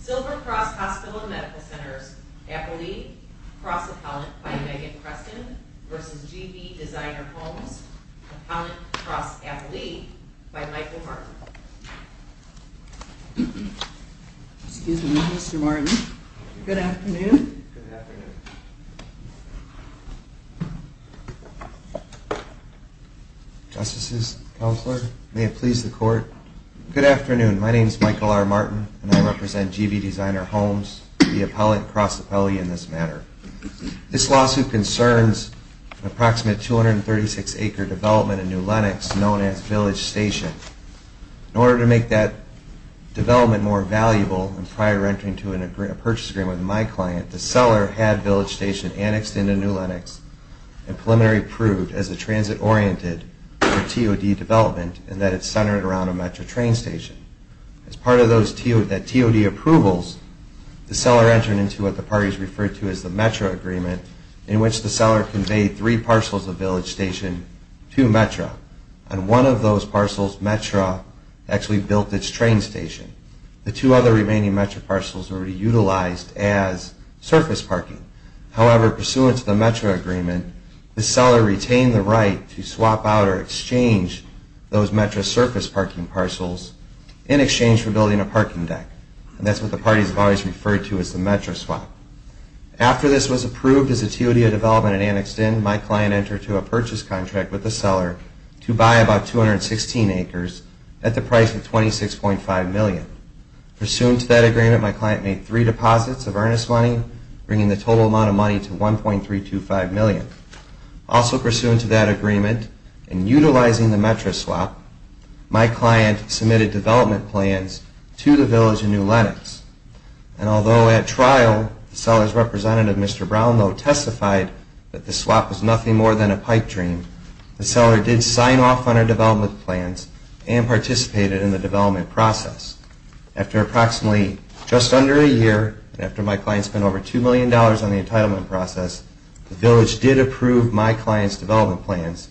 Silver Cross Hospital and Medical Centers, Appellee, Cross Appellant, by Megan Preston v. GV Designer Homes, Appellant, Cross Appellee, by Michael Martin. In order to make that development more valuable, and prior to entering into a purchase agreement with my client, the seller had Village Station annexed into New Lenox and preliminary approved as a transit-oriented or TOD development, and that it's centered around a Metro train station. As part of those TOD approvals, the seller entered into what the parties referred to as the Metro Agreement, in which the seller conveyed three parcels of Village Station to Metro, and one of those parcels, Metro, actually built its train station. The two other remaining Metro parcels were reutilized as surface parking. However, pursuant to the Metro Agreement, the seller retained the right to swap out or exchange those Metro surface parking parcels in exchange for building a parking deck, and that's what the parties have always referred to as the Metro swap. After this was approved as a TOD development and annexed in, my client entered into a purchase contract with the seller to buy about 216 acres at the price of $26.5 million. Pursuant to that agreement, my client made three deposits of earnest money, bringing the total amount of money to $1.325 million. Also pursuant to that agreement, in utilizing the Metro swap, my client submitted development plans to the Village in New Lenox. And although at trial, the seller's representative, Mr. Brownlow, testified that the swap was nothing more than a pipe dream, the seller did sign off on her development plans and participated in the development process. After approximately just under a year, and after my client spent over $2 million on the entitlement process, the Village did approve my client's development plans,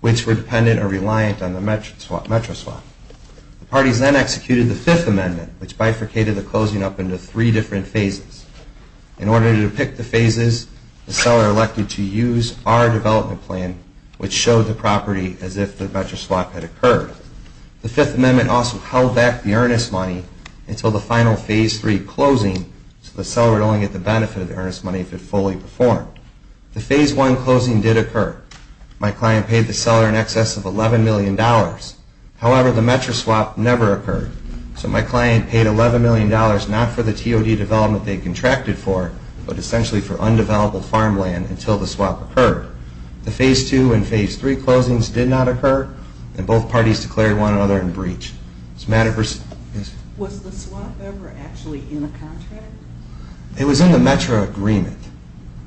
which were dependent or reliant on the Metro swap. The parties then executed the Fifth Amendment, which bifurcated the closing up into three different phases. In order to depict the phases, the seller elected to use our development plan, which showed the property as if the Metro swap had occurred. The Fifth Amendment also held back the earnest money until the final Phase III closing, so the seller would only get the benefit of the earnest money if it fully performed. The Phase I closing did occur. My client paid the seller in excess of $11 million. However, the Metro swap never occurred, so my client paid $11 million not for the TOD development they contracted for, but essentially for undeveloped farmland until the swap occurred. The Phase II and Phase III closings did not occur, and both parties declared one another in breach. Was the swap ever actually in the contract? It was in the Metro agreement.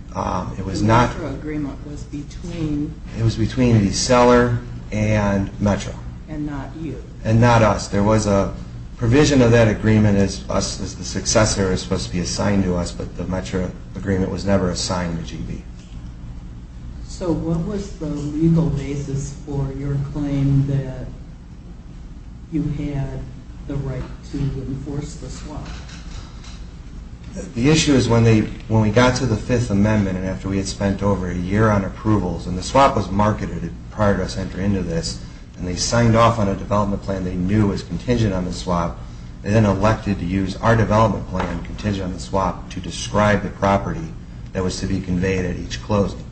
The Metro agreement was between... It was between the seller and Metro. And not you. And not us. There was a provision of that agreement as the successor was supposed to be assigned to us, but the Metro agreement was never assigned to GB. So what was the legal basis for your claim that you had the right to enforce the swap? The issue is when we got to the Fifth Amendment and after we had spent over a year on approvals, and the swap was marketed prior to us entering into this, and they signed off on a development plan they knew was contingent on the swap, they then elected to use our development plan contingent on the swap to describe the property that was to be conveyed at each closing.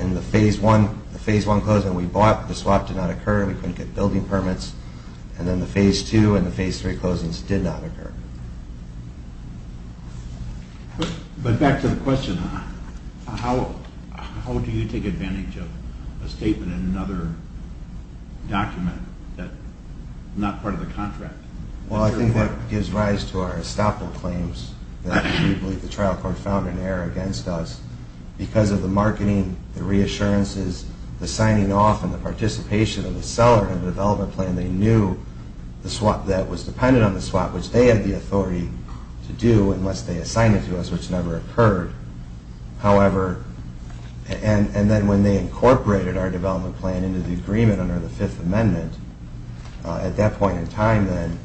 In the Phase I, the Phase I closing we bought, the swap did not occur. We couldn't get building permits. And then the Phase II and the Phase III closings did not occur. But back to the question, how do you take advantage of a statement in another document that's not part of the contract? Well, I think that gives rise to our estoppel claims that we believe the trial court found in error against us because of the marketing, the reassurances, the signing off, and the participation of the seller in the development plan. They knew the swap that was dependent on the swap, which they had the authority to do unless they assigned it to us, which never occurred. However, and then when they incorporated our development plan into the agreement under the Fifth Amendment, at that point in time then,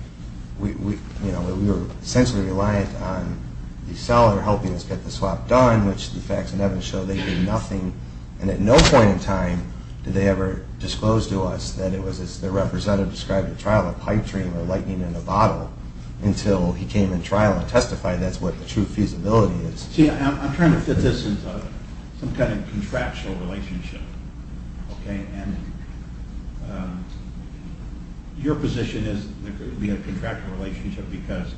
we were essentially reliant on the seller helping us get the swap done, which the facts in evidence show they did nothing, and at no point in time did they ever disclose to us that it was, as their representative described at trial, a pipe dream or lightning in a bottle until he came in trial and testified that's what the true feasibility is. See, I'm trying to fit this into some kind of contractual relationship, okay? And your position is that we have a contractual relationship because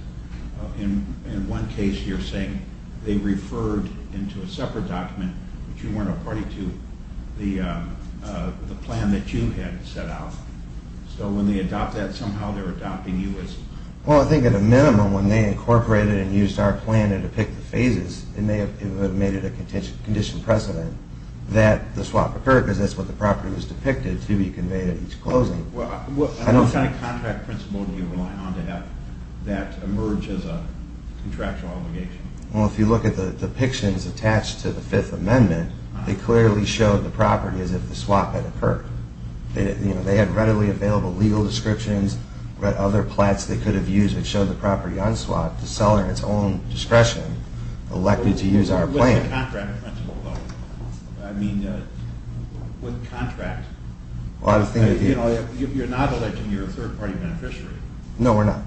in one case you're saying they referred into a separate document, but you weren't a party to the plan that you had set out. So when they adopt that, somehow they're adopting you as... Well, I think at a minimum when they incorporated and used our plan to depict the phases, it may have made it a condition precedent that the swap occurred because that's what the property was depicted to be conveyed at each closing. What kind of contract principle do you rely on to have that emerge as a contractual obligation? Well, if you look at the depictions attached to the Fifth Amendment, they clearly showed the property as if the swap had occurred. They had readily available legal descriptions, other plats they could have used that showed the property on swap. The seller, in its own discretion, elected to use our plan. What's the contract principle though? I mean, what contract? Well, I think... You're not electing your third party beneficiary. No, we're not.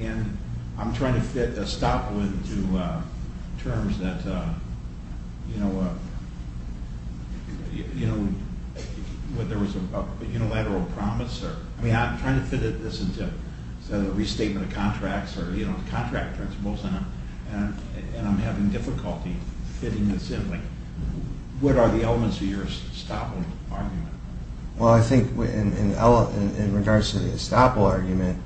And I'm trying to fit estoppel into terms that, you know, whether there was a unilateral promise or... I mean, I'm trying to fit this into a restatement of contracts or, you know, contract principles, and I'm having difficulty fitting this in. What are the elements of your estoppel argument? Well, I think in regards to the estoppel argument,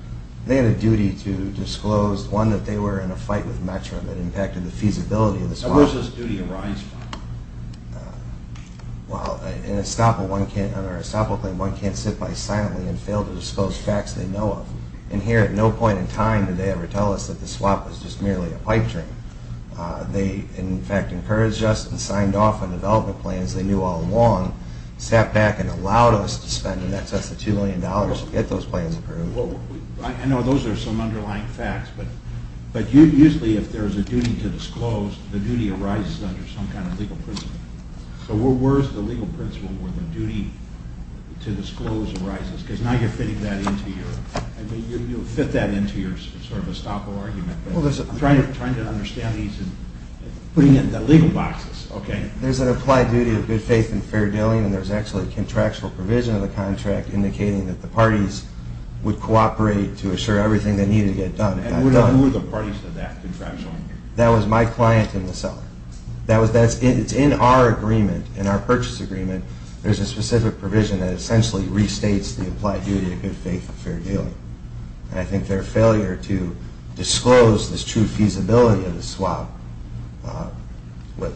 they had a duty to disclose, one, that they were in a fight with Metro that impacted the feasibility of the swap. So where does this duty arise from? Well, in our estoppel claim, one can't sit by silently and fail to disclose facts they know of. And here, at no point in time did they ever tell us that the swap was just merely a pipe dream. They, in fact, encouraged us and signed off on development plans they knew all along, sat back and allowed us to spend, and that's us, the $2 million to get those plans approved. I know those are some underlying facts, but usually if there's a duty to disclose, the duty arises under some kind of legal principle. So where's the legal principle where the duty to disclose arises? Because now you're fitting that into your... I mean, you'll fit that into your sort of estoppel argument. I'm trying to understand these and putting it in the legal boxes, okay? There's an applied duty of good faith and fair dealing, and there's actually a contractual provision of the contract indicating that the parties would cooperate to assure everything that needed to get done got done. And who are the parties to that contractual agreement? That was my client in the cellar. It's in our agreement, in our purchase agreement, there's a specific provision that essentially restates the applied duty of good faith and fair dealing. And I think their failure to disclose this true feasibility of the swap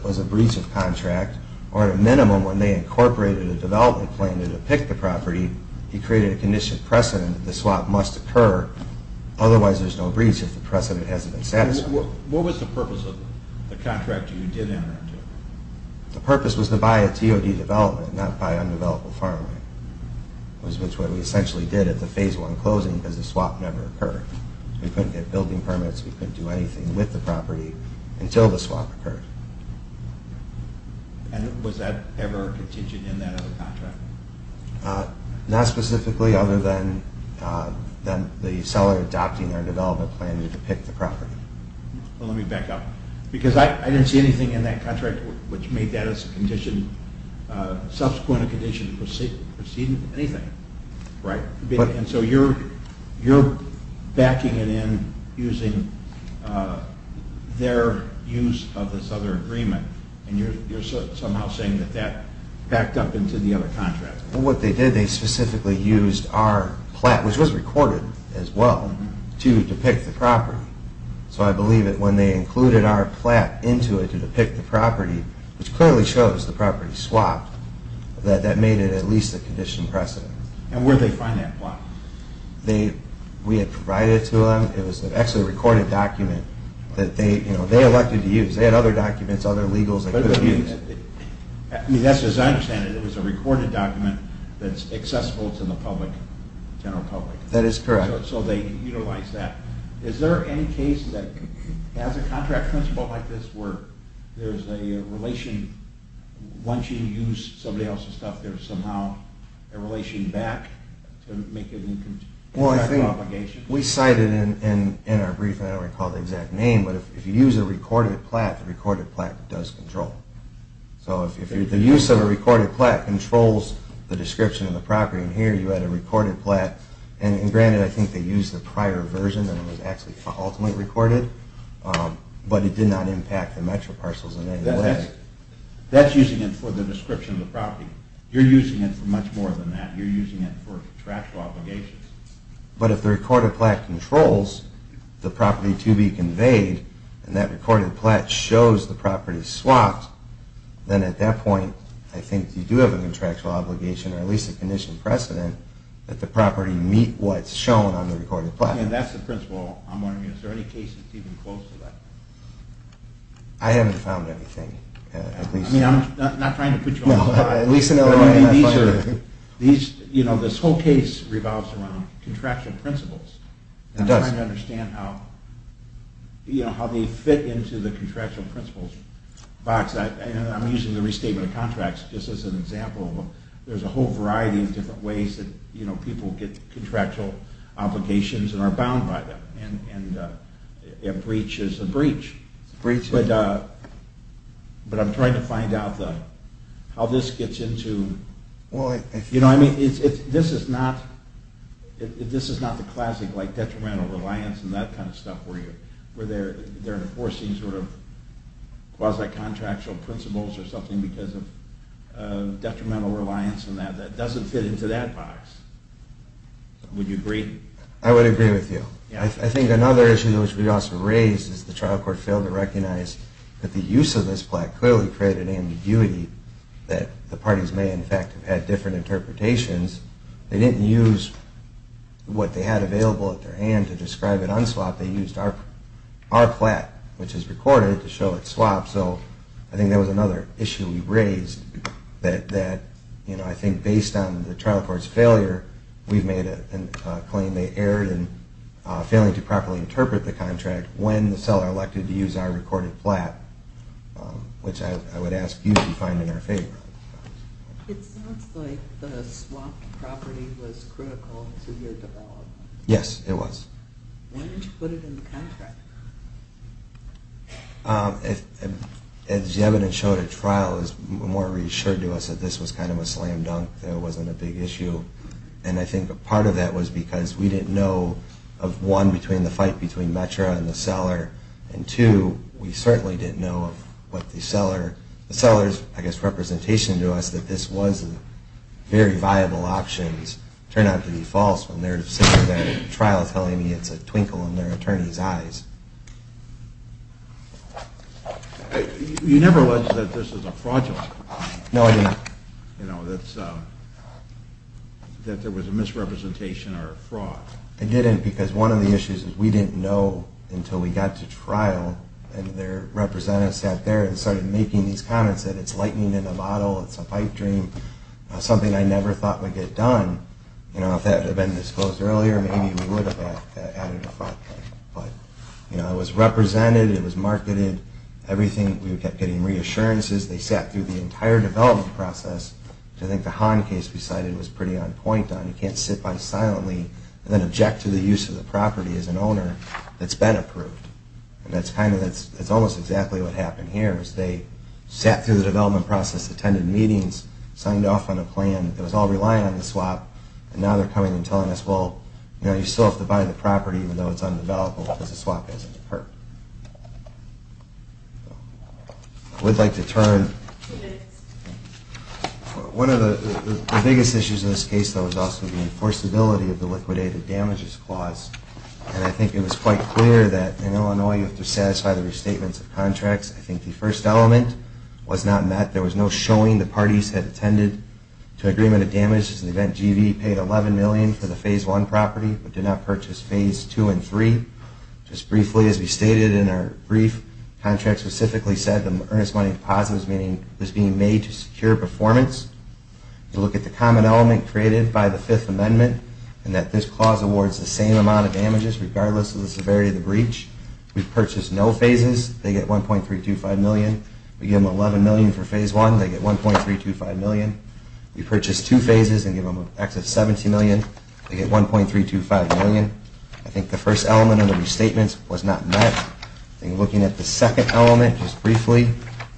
was a breach of contract. Or at a minimum, when they incorporated a development plan to depict the property, he created a condition precedent that the swap must occur, otherwise there's no breach if the precedent hasn't been satisfied. What was the purpose of the contract you did enter into? The purpose was to buy a TOD development, not buy undeveloped farmland. Which is what we essentially did at the Phase 1 closing because the swap never occurred. We couldn't get building permits, we couldn't do anything with the property until the swap occurred. And was that ever contingent in that other contract? Not specifically, other than the cellar adopting their development plan to depict the property. Let me back up. Because I didn't see anything in that contract which made that as a subsequent condition preceding anything, right? And so you're backing it in using their use of this other agreement and you're somehow saying that that backed up into the other contract. What they did, they specifically used our plat, which was recorded as well, to depict the property. So I believe that when they included our plat into it to depict the property, which clearly shows the property swapped, that that made it at least a condition precedent. And where did they find that plat? We had provided it to them. It was actually a recorded document that they elected to use. They had other documents, other legals that could have used it. As I understand it, it was a recorded document that's accessible to the general public. That is correct. So they utilized that. Is there any case that has a contract principle like this where there's a relation, once you use somebody else's stuff, there's somehow a relation back to make it an exact obligation? Well, I think we cited in our briefing, I don't recall the exact name, but if you use a recorded plat, the recorded plat does control. So if the use of a recorded plat controls the description of the property, and here you had a recorded plat, and granted, I think they used the prior version and it was actually ultimately recorded, but it did not impact the Metro parcels in any way. That's using it for the description of the property. You're using it for much more than that. You're using it for contractual obligations. But if the recorded plat controls the property to be conveyed, and that recorded plat shows the property swapped, then at that point I think you do have a contractual obligation or at least a condition precedent that the property meet what's shown on the recorded plat. And that's the principle I'm wondering. Is there any case that's even close to that? I haven't found anything. I mean, I'm not trying to put you on the spot. These are, you know, this whole case revolves around contractual principles. It does. I'm trying to understand how they fit into the contractual principles box. I'm using the restatement of contracts just as an example. There's a whole variety of different ways that people get contractual obligations and are bound by them, and a breach is a breach. But I'm trying to find out how this gets into, you know, I mean, this is not the classic like detrimental reliance and that kind of stuff where they're enforcing sort of quasi-contractual principles or something because of detrimental reliance and that. That doesn't fit into that box. Would you agree? I would agree with you. I think another issue which we also raised is the trial court failed to recognize that the use of this plat clearly created ambiguity that the parties may, in fact, have had different interpretations. They didn't use what they had available at their hand to describe it unswapped. They used our plat, which is recorded, to show it swapped. I think based on the trial court's failure, we've made a claim they erred in failing to properly interpret the contract when the seller elected to use our recorded plat, which I would ask you to find in our favor. It sounds like the swapped property was critical to your development. Yes, it was. When did you put it in the contract? As the evidence showed at trial, it was more reassuring to us that this was kind of a slam dunk, that it wasn't a big issue. And I think a part of that was because we didn't know of, one, between the fight between METRA and the seller, and, two, we certainly didn't know of what the seller's, I guess, representation to us, that this was very viable options turned out to be false when they're sitting there at trial telling me it's a twinkle in their attorney's eyes. You never alleged that this was a fraudulent? No, I didn't. That there was a misrepresentation or a fraud? I didn't because one of the issues is we didn't know until we got to trial and their representatives sat there and started making these comments that it's lightning in a bottle, it's a pipe dream, something I never thought would get done. If that had been disclosed earlier, maybe we would have added a fraud claim. But it was represented, it was marketed, we kept getting reassurances, they sat through the entire development process, which I think the Hahn case we cited was pretty on point on. You can't sit by silently and then object to the use of the property as an owner that's been approved. And that's almost exactly what happened here, is they sat through the development process, attended meetings, signed off on a plan that was all relying on the swap, and now they're coming and telling us, well, you still have to buy the property even though it's undeveloped because the swap hasn't occurred. I would like to turn... One of the biggest issues in this case, though, was also the enforceability of the liquidated damages clause. And I think it was quite clear that in Illinois you have to satisfy the restatements of contracts. I think the first element was not met. There was no showing the parties had attended to agreement of damages in the event GV paid $11 million for the Phase 1 property but did not purchase Phase 2 and 3. Just briefly, as we stated in our brief, the contract specifically said the earnest money deposit was being made to secure performance. You look at the common element created by the Fifth Amendment and that this clause awards the same amount of damages regardless of the severity of the breach. We've purchased no phases. They get $1.325 million. We give them $11 million for Phase 1. They get $1.325 million. We purchase two phases and give them an excess of $70 million. They get $1.325 million. I think the first element of the restatements was not met. I think looking at the second element, just briefly,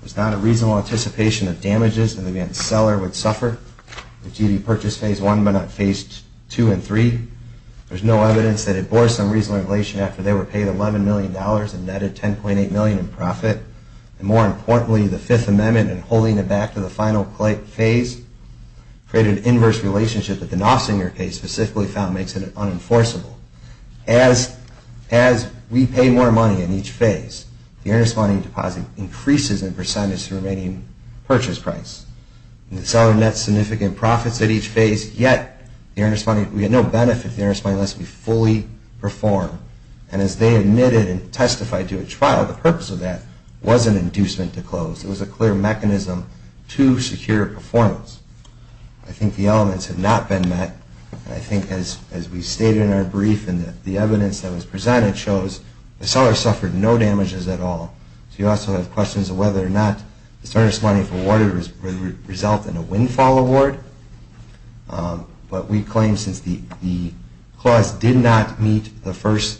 there's not a reasonable anticipation of damages in the event the seller would suffer if GV purchased Phase 1 but not Phase 2 and 3. There's no evidence that it bore some reasonable inflation after they were paid $11 million and netted $10.8 million in profit. And more importantly, the Fifth Amendment and holding it back to the final phase create an inverse relationship that the Nossinger case specifically found makes it unenforceable. As we pay more money in each phase, the earnest money deposit increases in percentage the remaining purchase price. The seller nets significant profits at each phase, yet we have no benefit to the earnest money unless we fully perform. And as they admitted and testified to a trial, the purpose of that was an inducement to close. It was a clear mechanism to secure performance. I think the elements have not been met. And I think as we stated in our brief and the evidence that was presented shows the seller suffered no damages at all. So you also have questions of whether or not this earnest money resulted in a windfall award. But we claim since the clause did not meet the first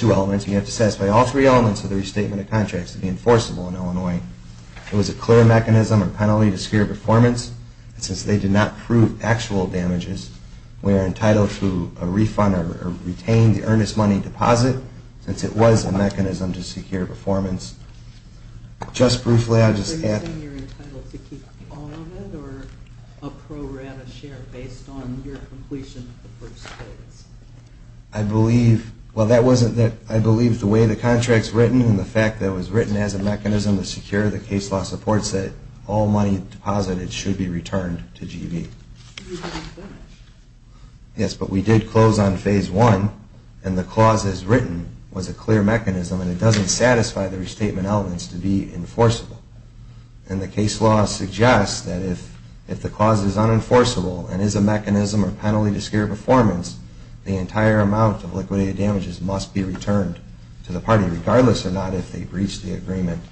two elements, you have to satisfy all three elements of the restatement of contracts to be enforceable in Illinois. It was a clear mechanism or penalty to secure performance. And since they did not prove actual damages, we are entitled to a refund or retain the earnest money deposit since it was a mechanism to secure performance. Just briefly, I'll just add... Are you saying you're entitled to keep all of it or a pro rata share based on your completion of the first phase? I believe... Well, that wasn't that... I believe the way the contract's written and the fact that it was written as a mechanism to secure, the case law supports that all money deposited should be returned to GB. Yes, but we did close on phase one and the clause as written was a clear mechanism and it doesn't satisfy the restatement elements to be enforceable. And the case law suggests that if the clause is unenforceable and is a mechanism or penalty to secure performance, the entire amount of liquidated damages must be returned to the party regardless or not if they breach the agreement.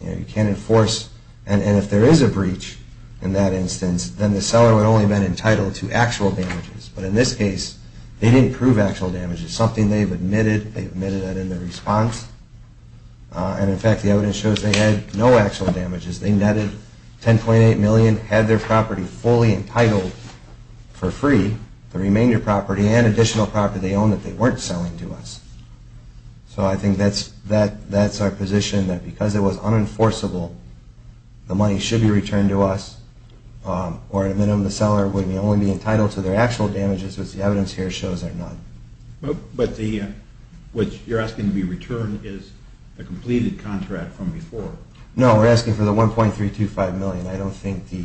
You can't enforce... And if there is a breach in that instance, then the seller would only have been entitled to actual damages. But in this case, they didn't prove actual damages, something they've admitted. They admitted that in their response. And in fact, the evidence shows they had no actual damages. They netted $10.8 million, had their property fully entitled for free, the remainder property and additional property they owned that they weren't selling to us. So I think that's our position, that because it was unenforceable, the money should be returned to us or at a minimum the seller would only be entitled to their actual damages, which the evidence here shows they're not. But the... What you're asking to be returned is the completed contract from before. No, we're asking for the $1.325 million. I don't think the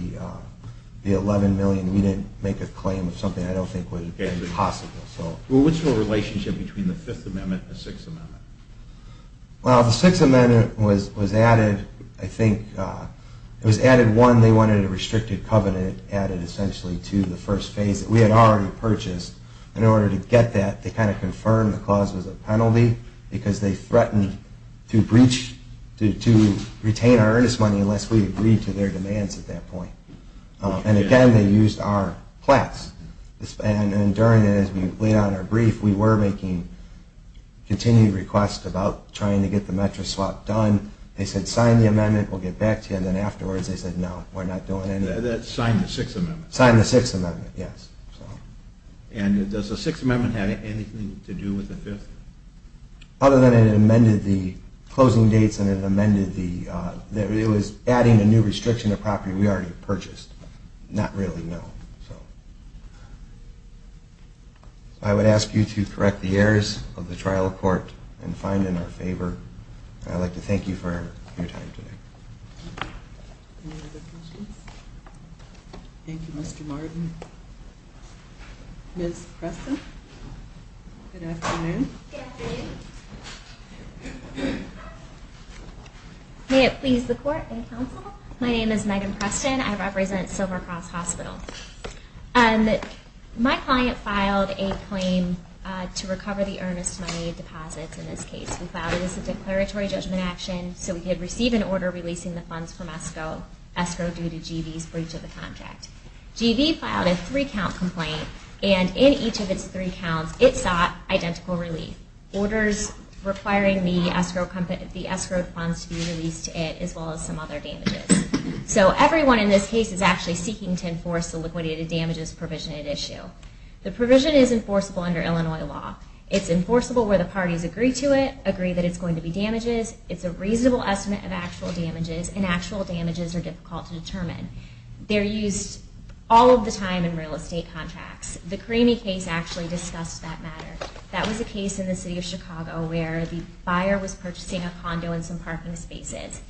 $11 million... We didn't make a claim of something I don't think would have been possible. Well, what's the relationship between the Fifth Amendment and the Sixth Amendment? Well, the Sixth Amendment was added, I think... It was added, one, they wanted a restricted covenant added essentially to the first phase that we had already purchased. because they threatened to retain our earnest money unless we agreed to their demands at that point. And again, they used our plats. And during it, as we laid out in our brief, we were making continued requests about trying to get the metro swap done. They said, sign the amendment, we'll get back to you. And then afterwards they said, no, we're not doing anything. That's signed the Sixth Amendment. Signed the Sixth Amendment, yes. And does the Sixth Amendment have anything to do with the Fifth? Other than it amended the closing dates and it amended the... It was adding a new restriction to property we already purchased. Not really, no. I would ask you to correct the errors of the trial court and find it in our favor. I'd like to thank you for your time today. Any other questions? Thank you, Mr. Martin. Ms. Preston? Good afternoon. Good afternoon. May it please the court and counsel, my name is Megan Preston. I represent Silver Cross Hospital. My client filed a claim to recover the earnest money deposits in this case. We filed it as a declaratory judgment action so we could receive an order releasing the funds from escrow due to G.V.'s breach of the contract. G.V. filed a three-count complaint and in each of its three counts it sought identical relief. Orders requiring the escrow funds to be released to it as well as some other damages. So everyone in this case is actually seeking to enforce the liquidated damages provision at issue. The provision is enforceable under Illinois law. It's enforceable where the parties agree to it, agree that it's going to be damages. It's a reasonable estimate of actual damages and actual damages are difficult to determine. They're used all of the time in real estate contracts. The Cremey case actually discussed that matter. That was a case in the city of Chicago where the buyer was purchasing a condo in some parking spaces.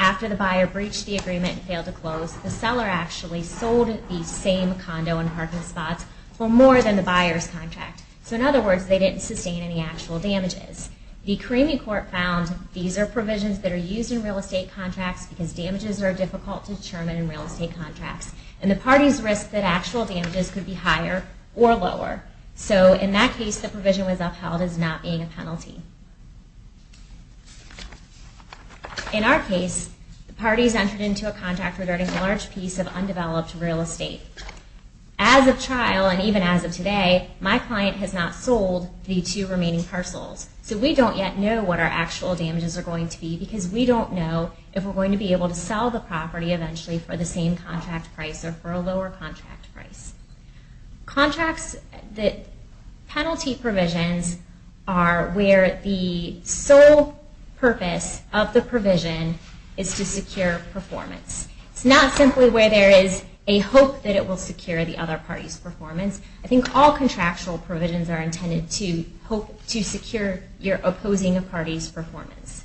After the buyer breached the agreement and failed to close, the seller actually sold the same condo and parking spots for more than the buyer's contract. So in other words, they didn't sustain any actual damages. The Cremey court found these are provisions that are used in real estate contracts because damages are difficult to determine in real estate contracts. And the parties risk that actual damages could be higher or lower. So in that case, the provision was upheld as not being a penalty. In our case, the parties entered into a contract regarding a large piece of undeveloped real estate. As of trial and even as of today, my client has not sold the two remaining parcels. So we don't yet know what our actual damages are going to be because we don't know if we're going to be able to sell the property eventually for the same contract price or for a lower contract price. Contracts that penalty provisions are where the sole purpose of the provision is to secure performance. It's not simply where there is a hope that it will secure the other party's performance. I think all contractual provisions are intended to hope to secure your opposing a party's performance.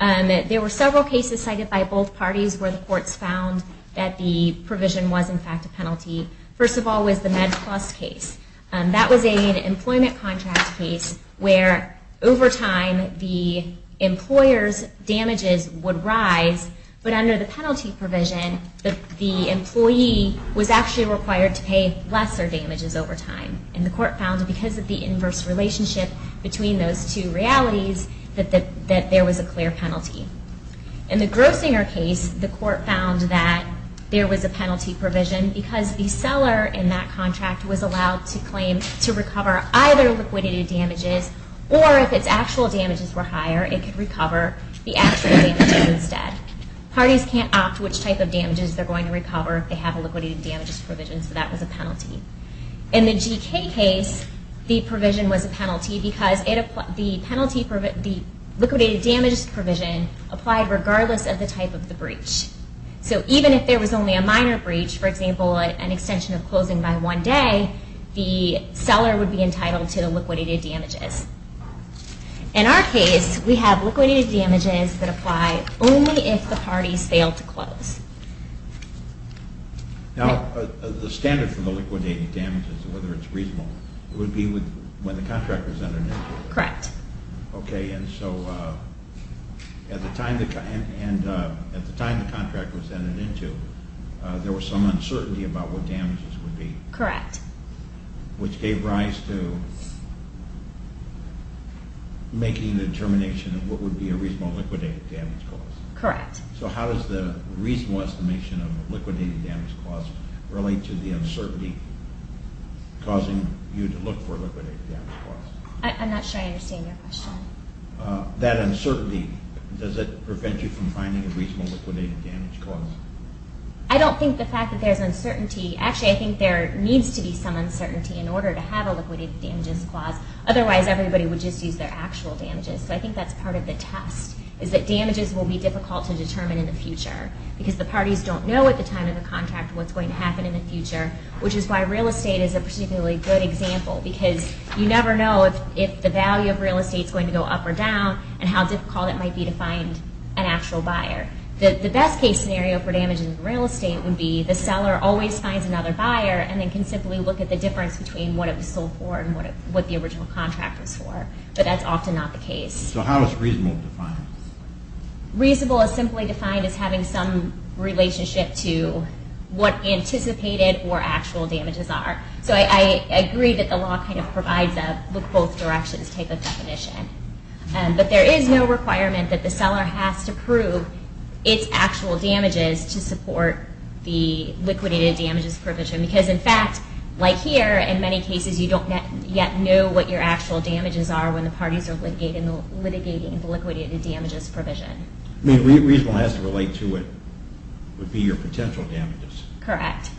There were several cases cited by both parties where the courts found that the provision was, in fact, a penalty. First of all was the Med Plus case. That was an employment contract case where over time the employer's damages would rise. But under the penalty provision, the employee was actually required to pay lesser damages over time. And the court found that because of the inverse relationship between those two realities, that there was a clear penalty. In the Grossinger case, the court found that there was a penalty provision because the seller in that contract was allowed to claim to recover either liquidity damages or if its actual damages were higher, it could recover the actual damages instead. Parties can't opt which type of damages they're going to recover if they have a liquidity damages provision, so that was a penalty. In the GK case, the provision was a penalty because the liquidated damages provision applied regardless of the type of the breach. So even if there was only a minor breach, for example, an extension of closing by one day, the seller would be entitled to the liquidated damages. In our case, we have liquidated damages that apply only if the parties fail to close. Now, the standard for the liquidated damages, whether it's reasonable, would be when the contract was entered into. Correct. Okay, and so at the time the contract was entered into, there was some uncertainty about what damages would be. Correct. Which gave rise to making the determination of what would be a reasonable liquidated damages clause. Correct. So how does the reasonable estimation of a liquidated damages clause relate to the uncertainty causing you to look for a liquidated damages clause? I'm not sure I understand your question. That uncertainty, does it prevent you from finding a reasonable liquidated damages clause? I don't think the fact that there's uncertainty, actually I think there needs to be some uncertainty in order to have a liquidated damages clause, otherwise everybody would just use their actual damages, so I think that's part of the test, is that damages will be difficult to determine in the future because the parties don't know at the time of the contract what's going to happen in the future, which is why real estate is a particularly good example because you never know if the value of real estate is going to go up or down and how difficult it might be to find an actual buyer. The best case scenario for damages in real estate would be the seller always finds another buyer and then can simply look at the difference between what it was sold for and what the original contract was for, but that's often not the case. So how is reasonable defined? Reasonable is simply defined as having some relationship to what anticipated or actual damages are. So I agree that the law kind of provides a look both directions type of definition, but there is no requirement that the seller has to prove its actual damages to support the liquidated damages provision, because in fact, like here, in many cases you don't yet know what your actual damages are when the parties are litigating the liquidated damages provision. I mean, reasonable has to relate to it would be your potential damages. Correct.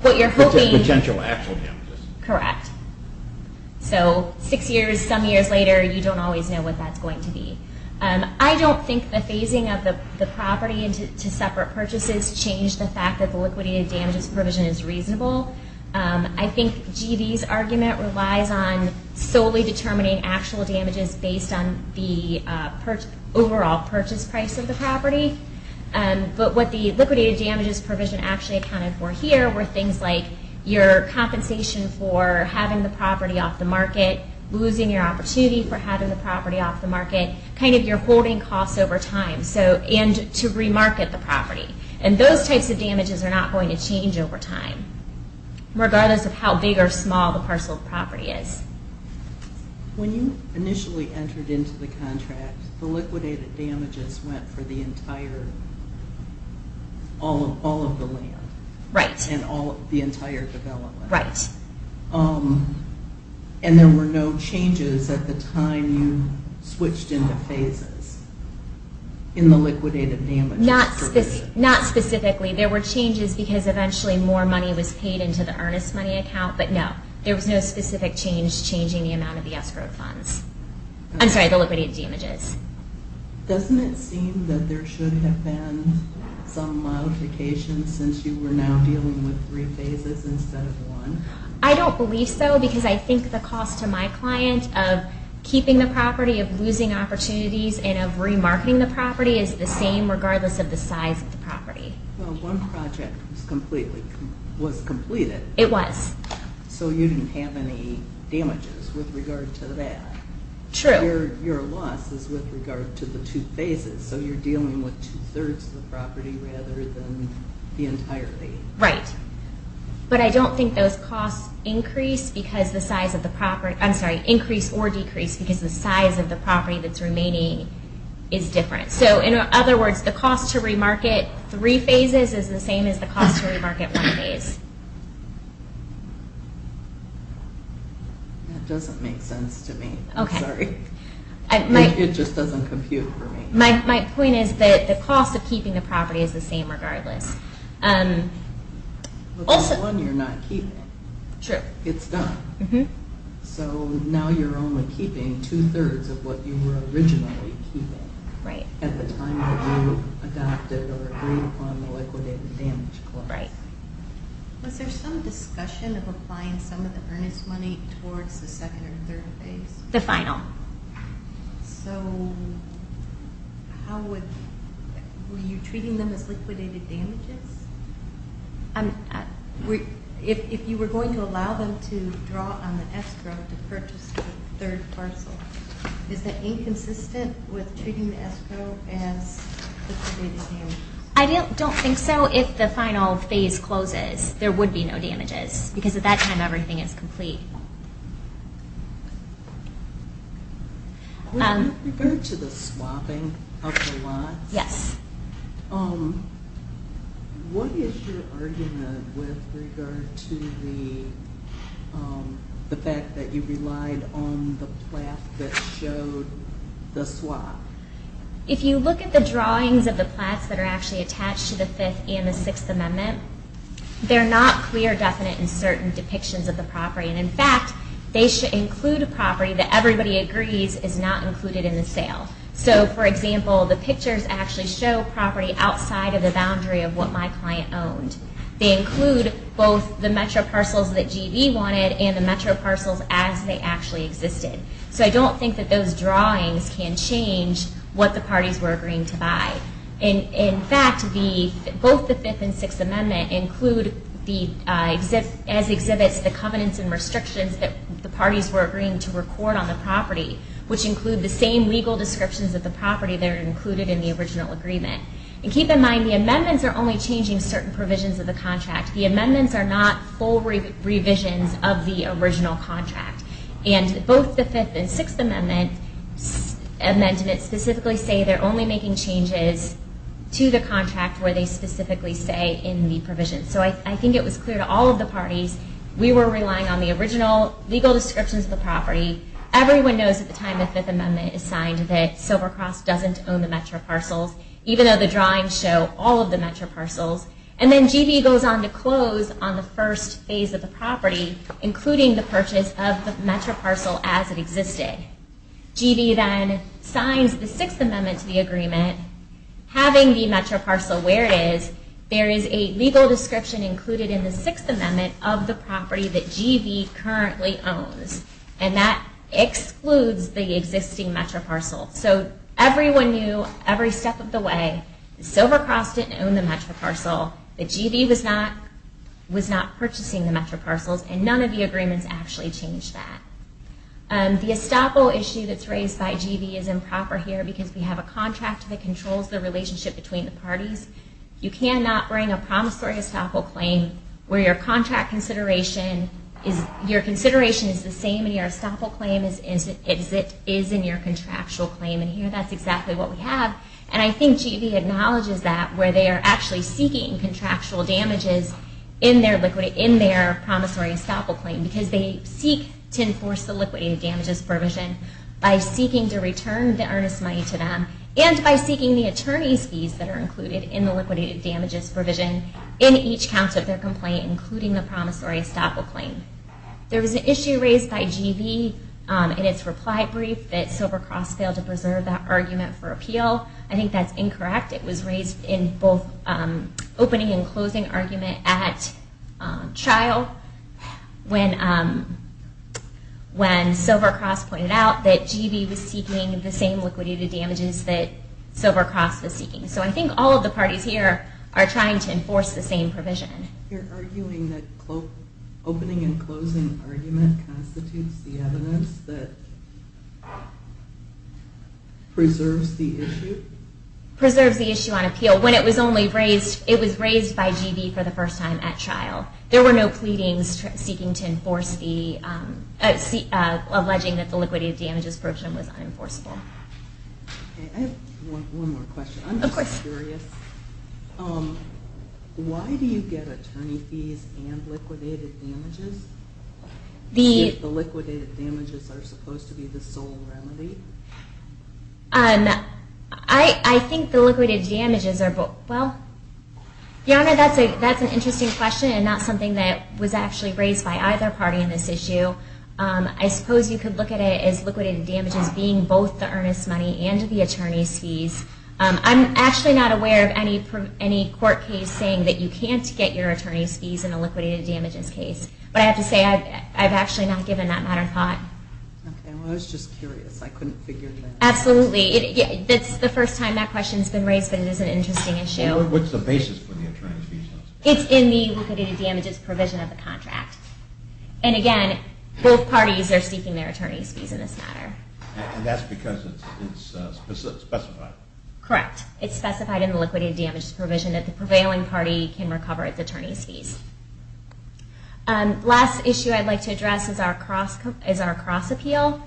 What you're hoping... Potential actual damages. Correct. So six years, some years later, you don't always know what that's going to be. I don't think the phasing of the property into separate purchases changed the fact that the liquidated damages provision is reasonable. I think GD's argument relies on solely determining actual damages based on the overall purchase price of the property. But what the liquidated damages provision actually accounted for here were things like your compensation for having the property off the market, losing your opportunity for having the property off the market, kind of your holding costs over time, and to remarket the property. And those types of damages are not going to change over time, regardless of how big or small the parcel of property is. When you initially entered into the contract, the liquidated damages went for the entire... all of the land. Right. And the entire development. Right. And there were no changes at the time you switched into phases in the liquidated damages provision? Not specifically. There were changes because eventually more money was paid into the earnest money account, but no. There was no specific change changing the amount of the escrow funds. I'm sorry, the liquidated damages. Doesn't it seem that there should have been some modifications since you were now dealing with three phases instead of one? I don't believe so because I think the cost to my client of keeping the property, of losing opportunities, and of remarketing the property is the same regardless of the size of the property. Well, one project was completed. It was. So you didn't have any damages with regard to that. True. Your loss is with regard to the two phases, so you're dealing with two-thirds of the property rather than the entirety. Right. But I don't think those costs increase because the size of the property... I'm sorry, increase or decrease because the size of the property that's remaining is different. So in other words, the cost to remarket three phases is the same as the cost to remarket one phase. That doesn't make sense to me. I'm sorry. It just doesn't compute for me. My point is that the cost of keeping the property is the same regardless. But the one you're not keeping. True. It's done. So now you're only keeping two-thirds of what you were originally keeping at the time that you adopted or agreed upon the liquidated damage cost. Right. Was there some discussion of applying some of the earnest money towards the second or third phase? The final. So how would... Were you treating them as liquidated damages? If you were going to allow them to draw on the escrow to purchase the third parcel, is that inconsistent with treating the escrow as liquidated damages? I don't think so. If the final phase closes, there would be no damages because at that time everything is complete. With regard to the swapping of the lots, what is your argument with regard to the fact that you relied on the plath that showed the swap? If you look at the drawings of the plaths that are actually attached to the Fifth and the Sixth Amendment, they're not clear, definite, and certain depictions of the property. And in fact, they should include a property that everybody agrees is not included in the sale. So, for example, the pictures actually show property outside of the boundary of what my client owned. They include both the Metro parcels that GB wanted and the Metro parcels as they actually existed. So I don't think that those drawings can change what the parties were agreeing to buy. In fact, both the Fifth and Sixth Amendment include as exhibits the covenants and restrictions that the parties were agreeing to record on the property, which include the same legal descriptions of the property that are included in the original agreement. And keep in mind, the amendments are only changing certain provisions of the contract. The amendments are not full revisions of the original contract. And both the Fifth and Sixth Amendment amendments specifically say they're only making changes to the contract where they specifically say in the provision. So I think it was clear to all of the parties we were relying on the original legal descriptions of the property. Everyone knows at the time the Fifth Amendment is signed that Silver Cross doesn't own the Metro parcels, even though the drawings show all of the Metro parcels. And then GB goes on to close on the first phase of the property, including the purchase of the Metro parcel as it existed. GB then signs the Sixth Amendment to the agreement. Having the Metro parcel where it is, there is a legal description included in the Sixth Amendment of the property that GB currently owns. And that excludes the existing Metro parcel. So everyone knew every step of the way that Silver Cross didn't own the Metro parcel, that GB was not purchasing the Metro parcels, and none of the agreements actually change that. The estoppel issue that's raised by GB is improper here because we have a contract that controls the relationship between the parties. You cannot bring a promissory estoppel claim where your contract consideration is, your consideration is the same in your estoppel claim as it is in your contractual claim. And here that's exactly what we have. And I think GB acknowledges that where they are actually seeking contractual damages in their promissory estoppel claim because they seek to enforce the liquidated damages provision by seeking to return the earnest money to them and by seeking the attorney's fees that are included in the liquidated damages provision in each count of their complaint, including the promissory estoppel claim. There was an issue raised by GB in its reply brief that Silver Cross failed to preserve that argument for appeal. I think that's incorrect. It was raised in both opening and closing argument at trial when Silver Cross pointed out that GB was seeking the same liquidated damages that Silver Cross was seeking. So I think all of the parties here are trying to enforce the same provision. You're arguing that opening and closing argument constitutes the evidence that preserves the issue? Preserves the issue on appeal when it was raised by GB for the first time at trial. There were no pleadings alleging that the liquidated damages provision was unenforceable. I have one more question. I'm just curious. Why do you get attorney fees and liquidated damages? If the liquidated damages are supposed to be the sole remedy? I think the liquidated damages are both. Your Honor, that's an interesting question and not something that was actually raised by either party in this issue. I suppose you could look at it as liquidated damages being both the earnest money and the attorney's fees. I'm actually not aware of any court case saying that you can't get your attorney's fees in a liquidated damages case. But I have to say I've actually not given that matter thought. I was just curious. I couldn't figure that out. Absolutely. It's the first time that question's been raised, but it is an interesting issue. What's the basis for the attorney's fees? It's in the liquidated damages provision of the contract. And again, both parties are seeking their attorney's fees in this matter. And that's because it's specified. Correct. It's specified in the liquidated damages provision that the prevailing party can recover its attorney's fees. The last issue I'd like to address is our cross appeal.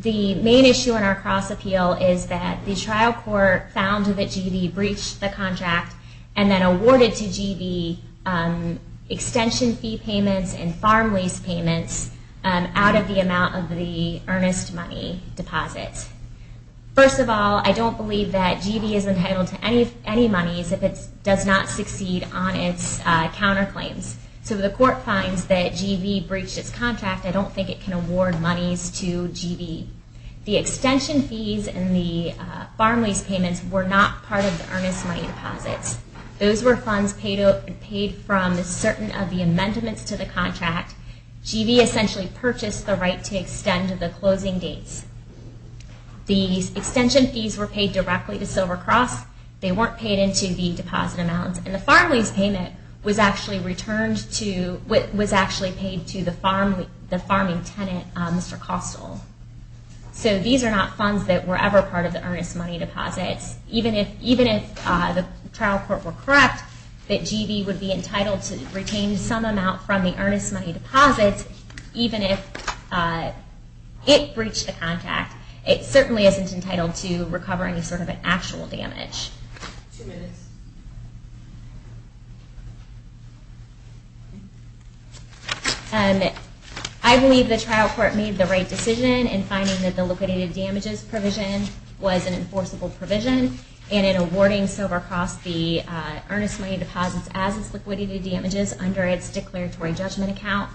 The main issue in our cross appeal is that the trial court found that GB breached the contract and then awarded to GB extension fee payments and farm lease payments out of the amount of the earnest money deposits. First of all, I don't believe that GB is entitled to any monies if it does not succeed on its counterclaims. So the court finds that GB breached its contract. I don't think it can award monies to GB. The extension fees and the farm lease payments were not part of the earnest money deposits. Those were funds paid from certain of the amendments to the contract. GB essentially purchased the right to extend the closing dates. The extension fees were paid directly to Silver Cross. They weren't paid into the deposit amounts. And the farm lease payment was actually paid to the farming tenant, Mr. Costle. So these are not funds that were ever part of the earnest money deposits. Even if the trial court were correct, that GB would be entitled to retain some amount from the earnest money deposits, even if it breached the contract. It certainly isn't entitled to recover any sort of an actual damage. I believe the trial court made the right decision in finding that the liquidated damages provision was an enforceable provision. And in awarding Silver Cross the earnest money deposits as its liquidated damages under its declaratory judgment account.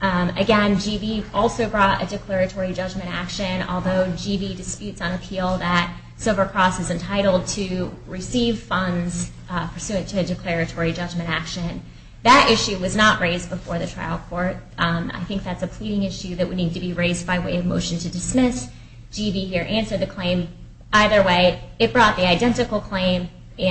Again, GB also brought a declaratory judgment action. Although GB disputes on appeal that Silver Cross is entitled to receive funds pursuant to a declaratory judgment action. That issue was not raised before the trial court. I think that's a pleading issue that would need to be raised by way of motion to dismiss. GB here answered the claim. Either way, it brought the identical claim So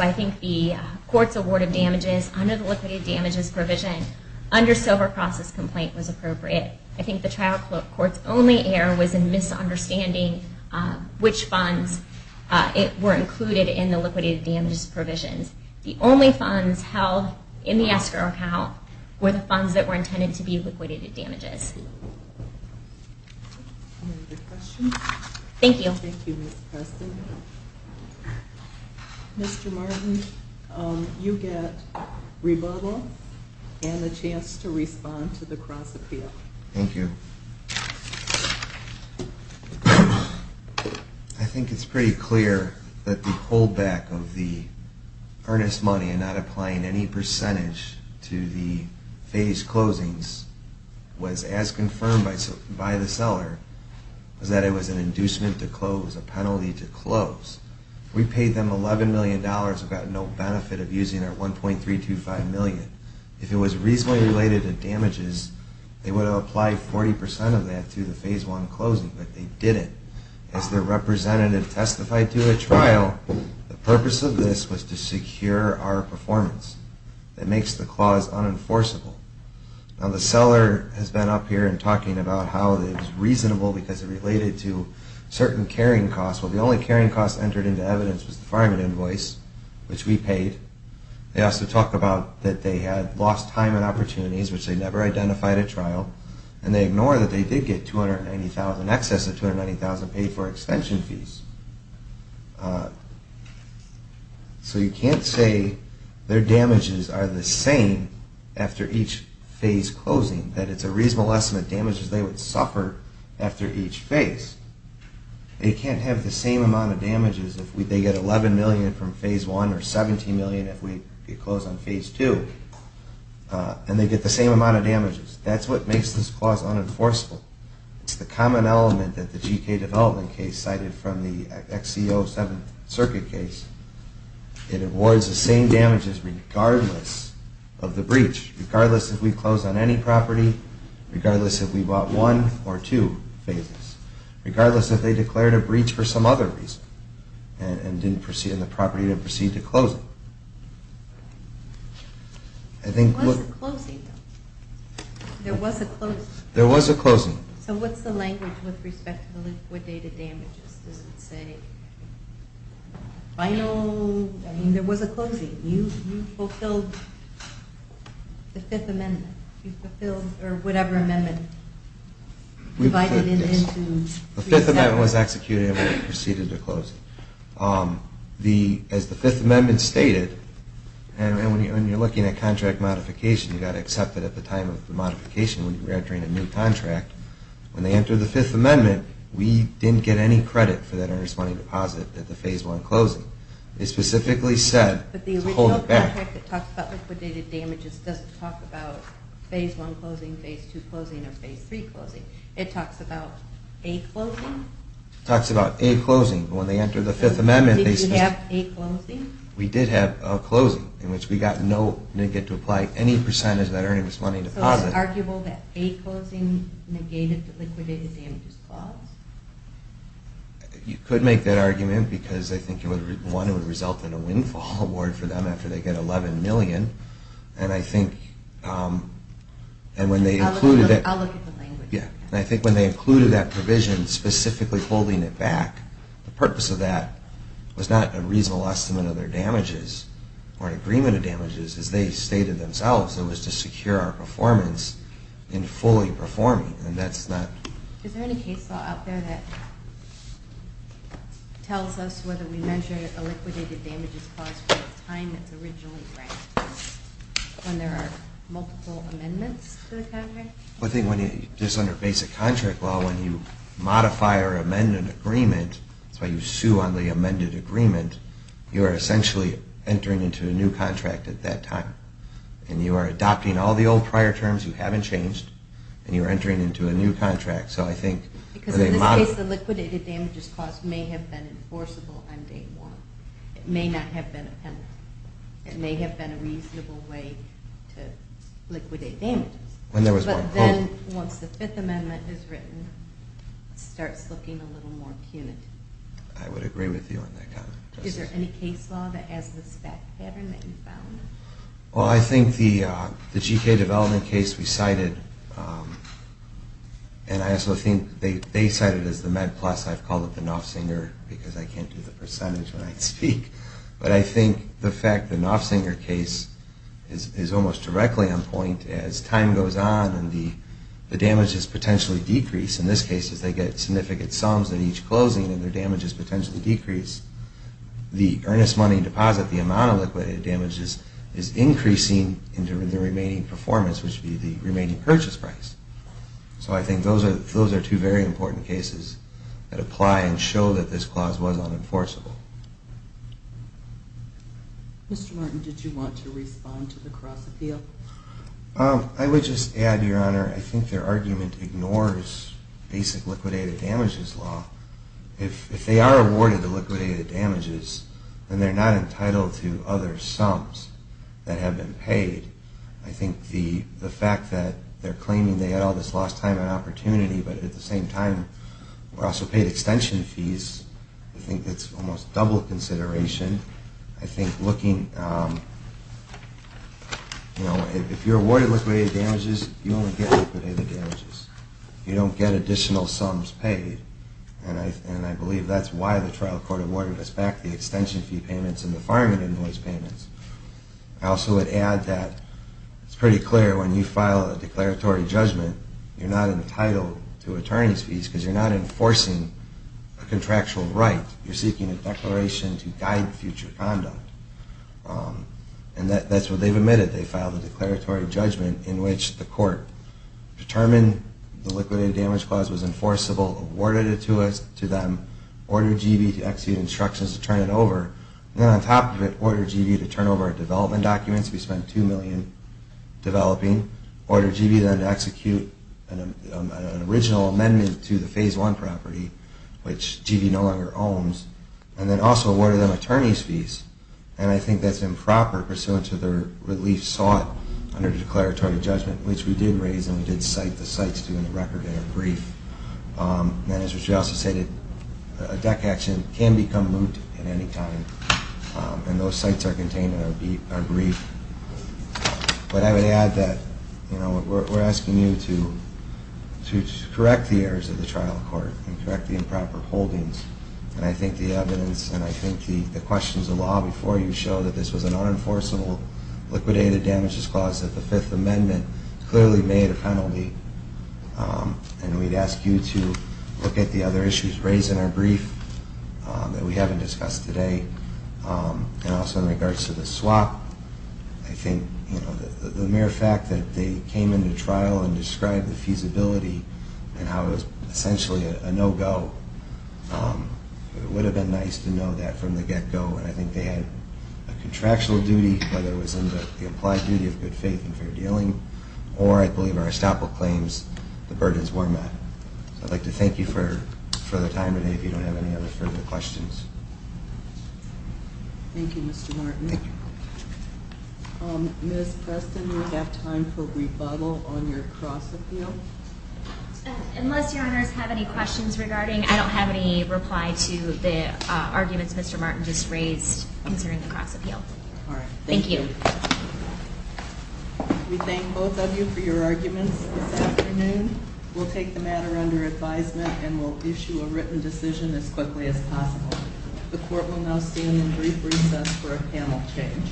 I think the court's award of damages under the liquidated damages provision under Silver Cross's complaint was appropriate. I think the trial court's only error was in misunderstanding which funds were included in the liquidated damages provisions. The only funds held in the escrow account were the funds that were intended to be liquidated damages. Thank you. Thank you, Ms. Preston. Mr. Martin, you get rebuttal and a chance to respond to the cross appeal. Thank you. I think it's pretty clear that the hold back of the earnest money and not applying any percentage to the phase closings was as confirmed by the seller was that it was an inducement to close, that it was a penalty to close. We paid them $11 million and got no benefit of using our $1.325 million. If it was reasonably related to damages, they would have applied 40% of that to the phase one closing, but they didn't. As their representative testified to the trial, the purpose of this was to secure our performance. That makes the clause unenforceable. Now the seller has been up here and talking about how it was reasonable because it related to certain carrying costs. Well, the only carrying cost entered into evidence was the fireman invoice, which we paid. They also talked about that they had lost time and opportunities, which they never identified at trial, and they ignore that they did get $290,000, excess of $290,000 paid for extension fees. So you can't say their damages are the same after each phase closing, that it's a reasonable estimate of the damages they would suffer after each phase. They can't have the same amount of damages if they get $11 million from phase one or $17 million if we close on phase two, and they get the same amount of damages. That's what makes this clause unenforceable. It's the common element that the GK development case cited from the XCO 7th Circuit case. It awards the same damages regardless of the breach, regardless if we close on any property, regardless if we bought one or two phases, regardless if they declared a breach for some other reason and the property didn't proceed to close it. There was a closing, though. There was a closing. There was a closing. So what's the language with respect to liquidated damages? Does it say final... I mean, there was a closing. You fulfilled the Fifth Amendment. Or whatever amendment divided it into... The Fifth Amendment was executed and we proceeded to close it. As the Fifth Amendment stated, and when you're looking at contract modification, you've got to accept that at the time of the modification when you're entering a new contract, when they enter the Fifth Amendment, we didn't get any credit for that earnest money deposit at the phase one closing. It specifically said to hold it back. But the original contract that talks about liquidated damages doesn't talk about phase one closing, phase two closing, or phase three closing. It talks about a closing. It talks about a closing. When they enter the Fifth Amendment... Did you have a closing? We did have a closing in which we got no... didn't get to apply any percentage of that earnest money deposit. So it's arguable that a closing negated the liquidated damages clause? You could make that argument because I think, one, it would result in a windfall award for them after they get $11 million. And I think... I'll look at the language. I think when they included that provision, specifically holding it back, the purpose of that was not a reasonable estimate of their damages or an agreement of damages, as they stated themselves. It was to secure our performance in fully performing, and that's not... Is there any case law out there that tells us whether we measure a liquidated damages clause at the time it's originally granted, when there are multiple amendments to the contract? I think just under basic contract law, when you modify or amend an agreement, that's why you sue on the amended agreement, you are essentially entering into a new contract at that time. And you are adopting all the old prior terms you haven't changed, and you're entering into a new contract. So I think... Because in this case, the liquidated damages clause may have been enforceable on day one. It may not have been a penalty. It may have been a reasonable way to liquidate damages. But then, once the Fifth Amendment is written, it starts looking a little more punitive. I would agree with you on that. Is there any case law that has this back pattern that you found? Well, I think the GK development case we cited... And I also think they cite it as the Med Plus. I've called it the Knopfsinger because I can't do the percentage when I speak. But I think the fact the Knopfsinger case is almost directly on point as time goes on and the damages potentially decrease. In this case, they get significant sums at each closing and their damages potentially decrease. The earnest money deposit, the amount of liquidated damages, is increasing in the remaining performance, which would be the remaining purchase price. So I think those are two very important cases that apply and show that this clause was unenforceable. Mr. Martin, did you want to respond to the cross-appeal? I would just add, Your Honor, I think their argument ignores basic liquidated damages law. If they are awarded the liquidated damages, then they're not entitled to other sums that have been paid. I think the fact that they're claiming they had all this lost time and opportunity but at the same time were also paid extension fees, I think that's almost double consideration. I think looking, you know, if you're awarded liquidated damages, you only get liquidated damages. You don't get additional sums paid. And I believe that's why the trial court awarded us back the extension fee payments and the firemen and noise payments. I also would add that it's pretty clear when you file a declaratory judgment, you're not entitled to attorney's fees because you're not enforcing a contractual right. You're seeking a declaration to guide future conduct. And that's what they've admitted. They filed a declaratory judgment in which the court determined the liquidated damages clause was enforceable, awarded it to them, ordered GB to execute instructions to turn it over, and then on top of it, ordered GB to turn over our development documents. We spent $2 million developing. Ordered GB then to execute an original amendment to the Phase 1 property, which GB no longer owns, and then also awarded them attorney's fees. And I think that's improper pursuant to their relief sought under the declaratory judgment, which we did raise, and we did cite the sites to in the record in a brief. And as Richie also stated, a deck action can become moot at any time, and those sites are contained in our brief. But I would add that we're asking you to correct the errors of the trial court and correct the improper holdings. And I think the evidence and I think the questions of law before you show that this was an unenforceable liquidated damages clause that the Fifth Amendment clearly made a penalty. And we'd ask you to look at the other issues raised in our brief that we haven't discussed today. And also in regards to the swap, I think the mere fact that they came into trial and described the feasibility and how it was essentially a no-go, it would have been nice to know that from the get-go. And I think they had a contractual duty, whether it was in the implied duty of good faith and fair dealing, or I believe our estoppel claims, the burdens were met. So I'd like to thank you for the time today if you don't have any other further questions. Thank you, Mr. Martin. Ms. Preston, we have time for rebuttal on your cross-appeal. Unless your honors have any questions regarding, I don't have any reply to the arguments Mr. Martin just raised concerning the cross-appeal. All right. Thank you. We thank both of you for your arguments this afternoon. We'll take the matter under advisement and we'll issue a written decision as quickly as possible. The court will now stand in brief recess for a panel change.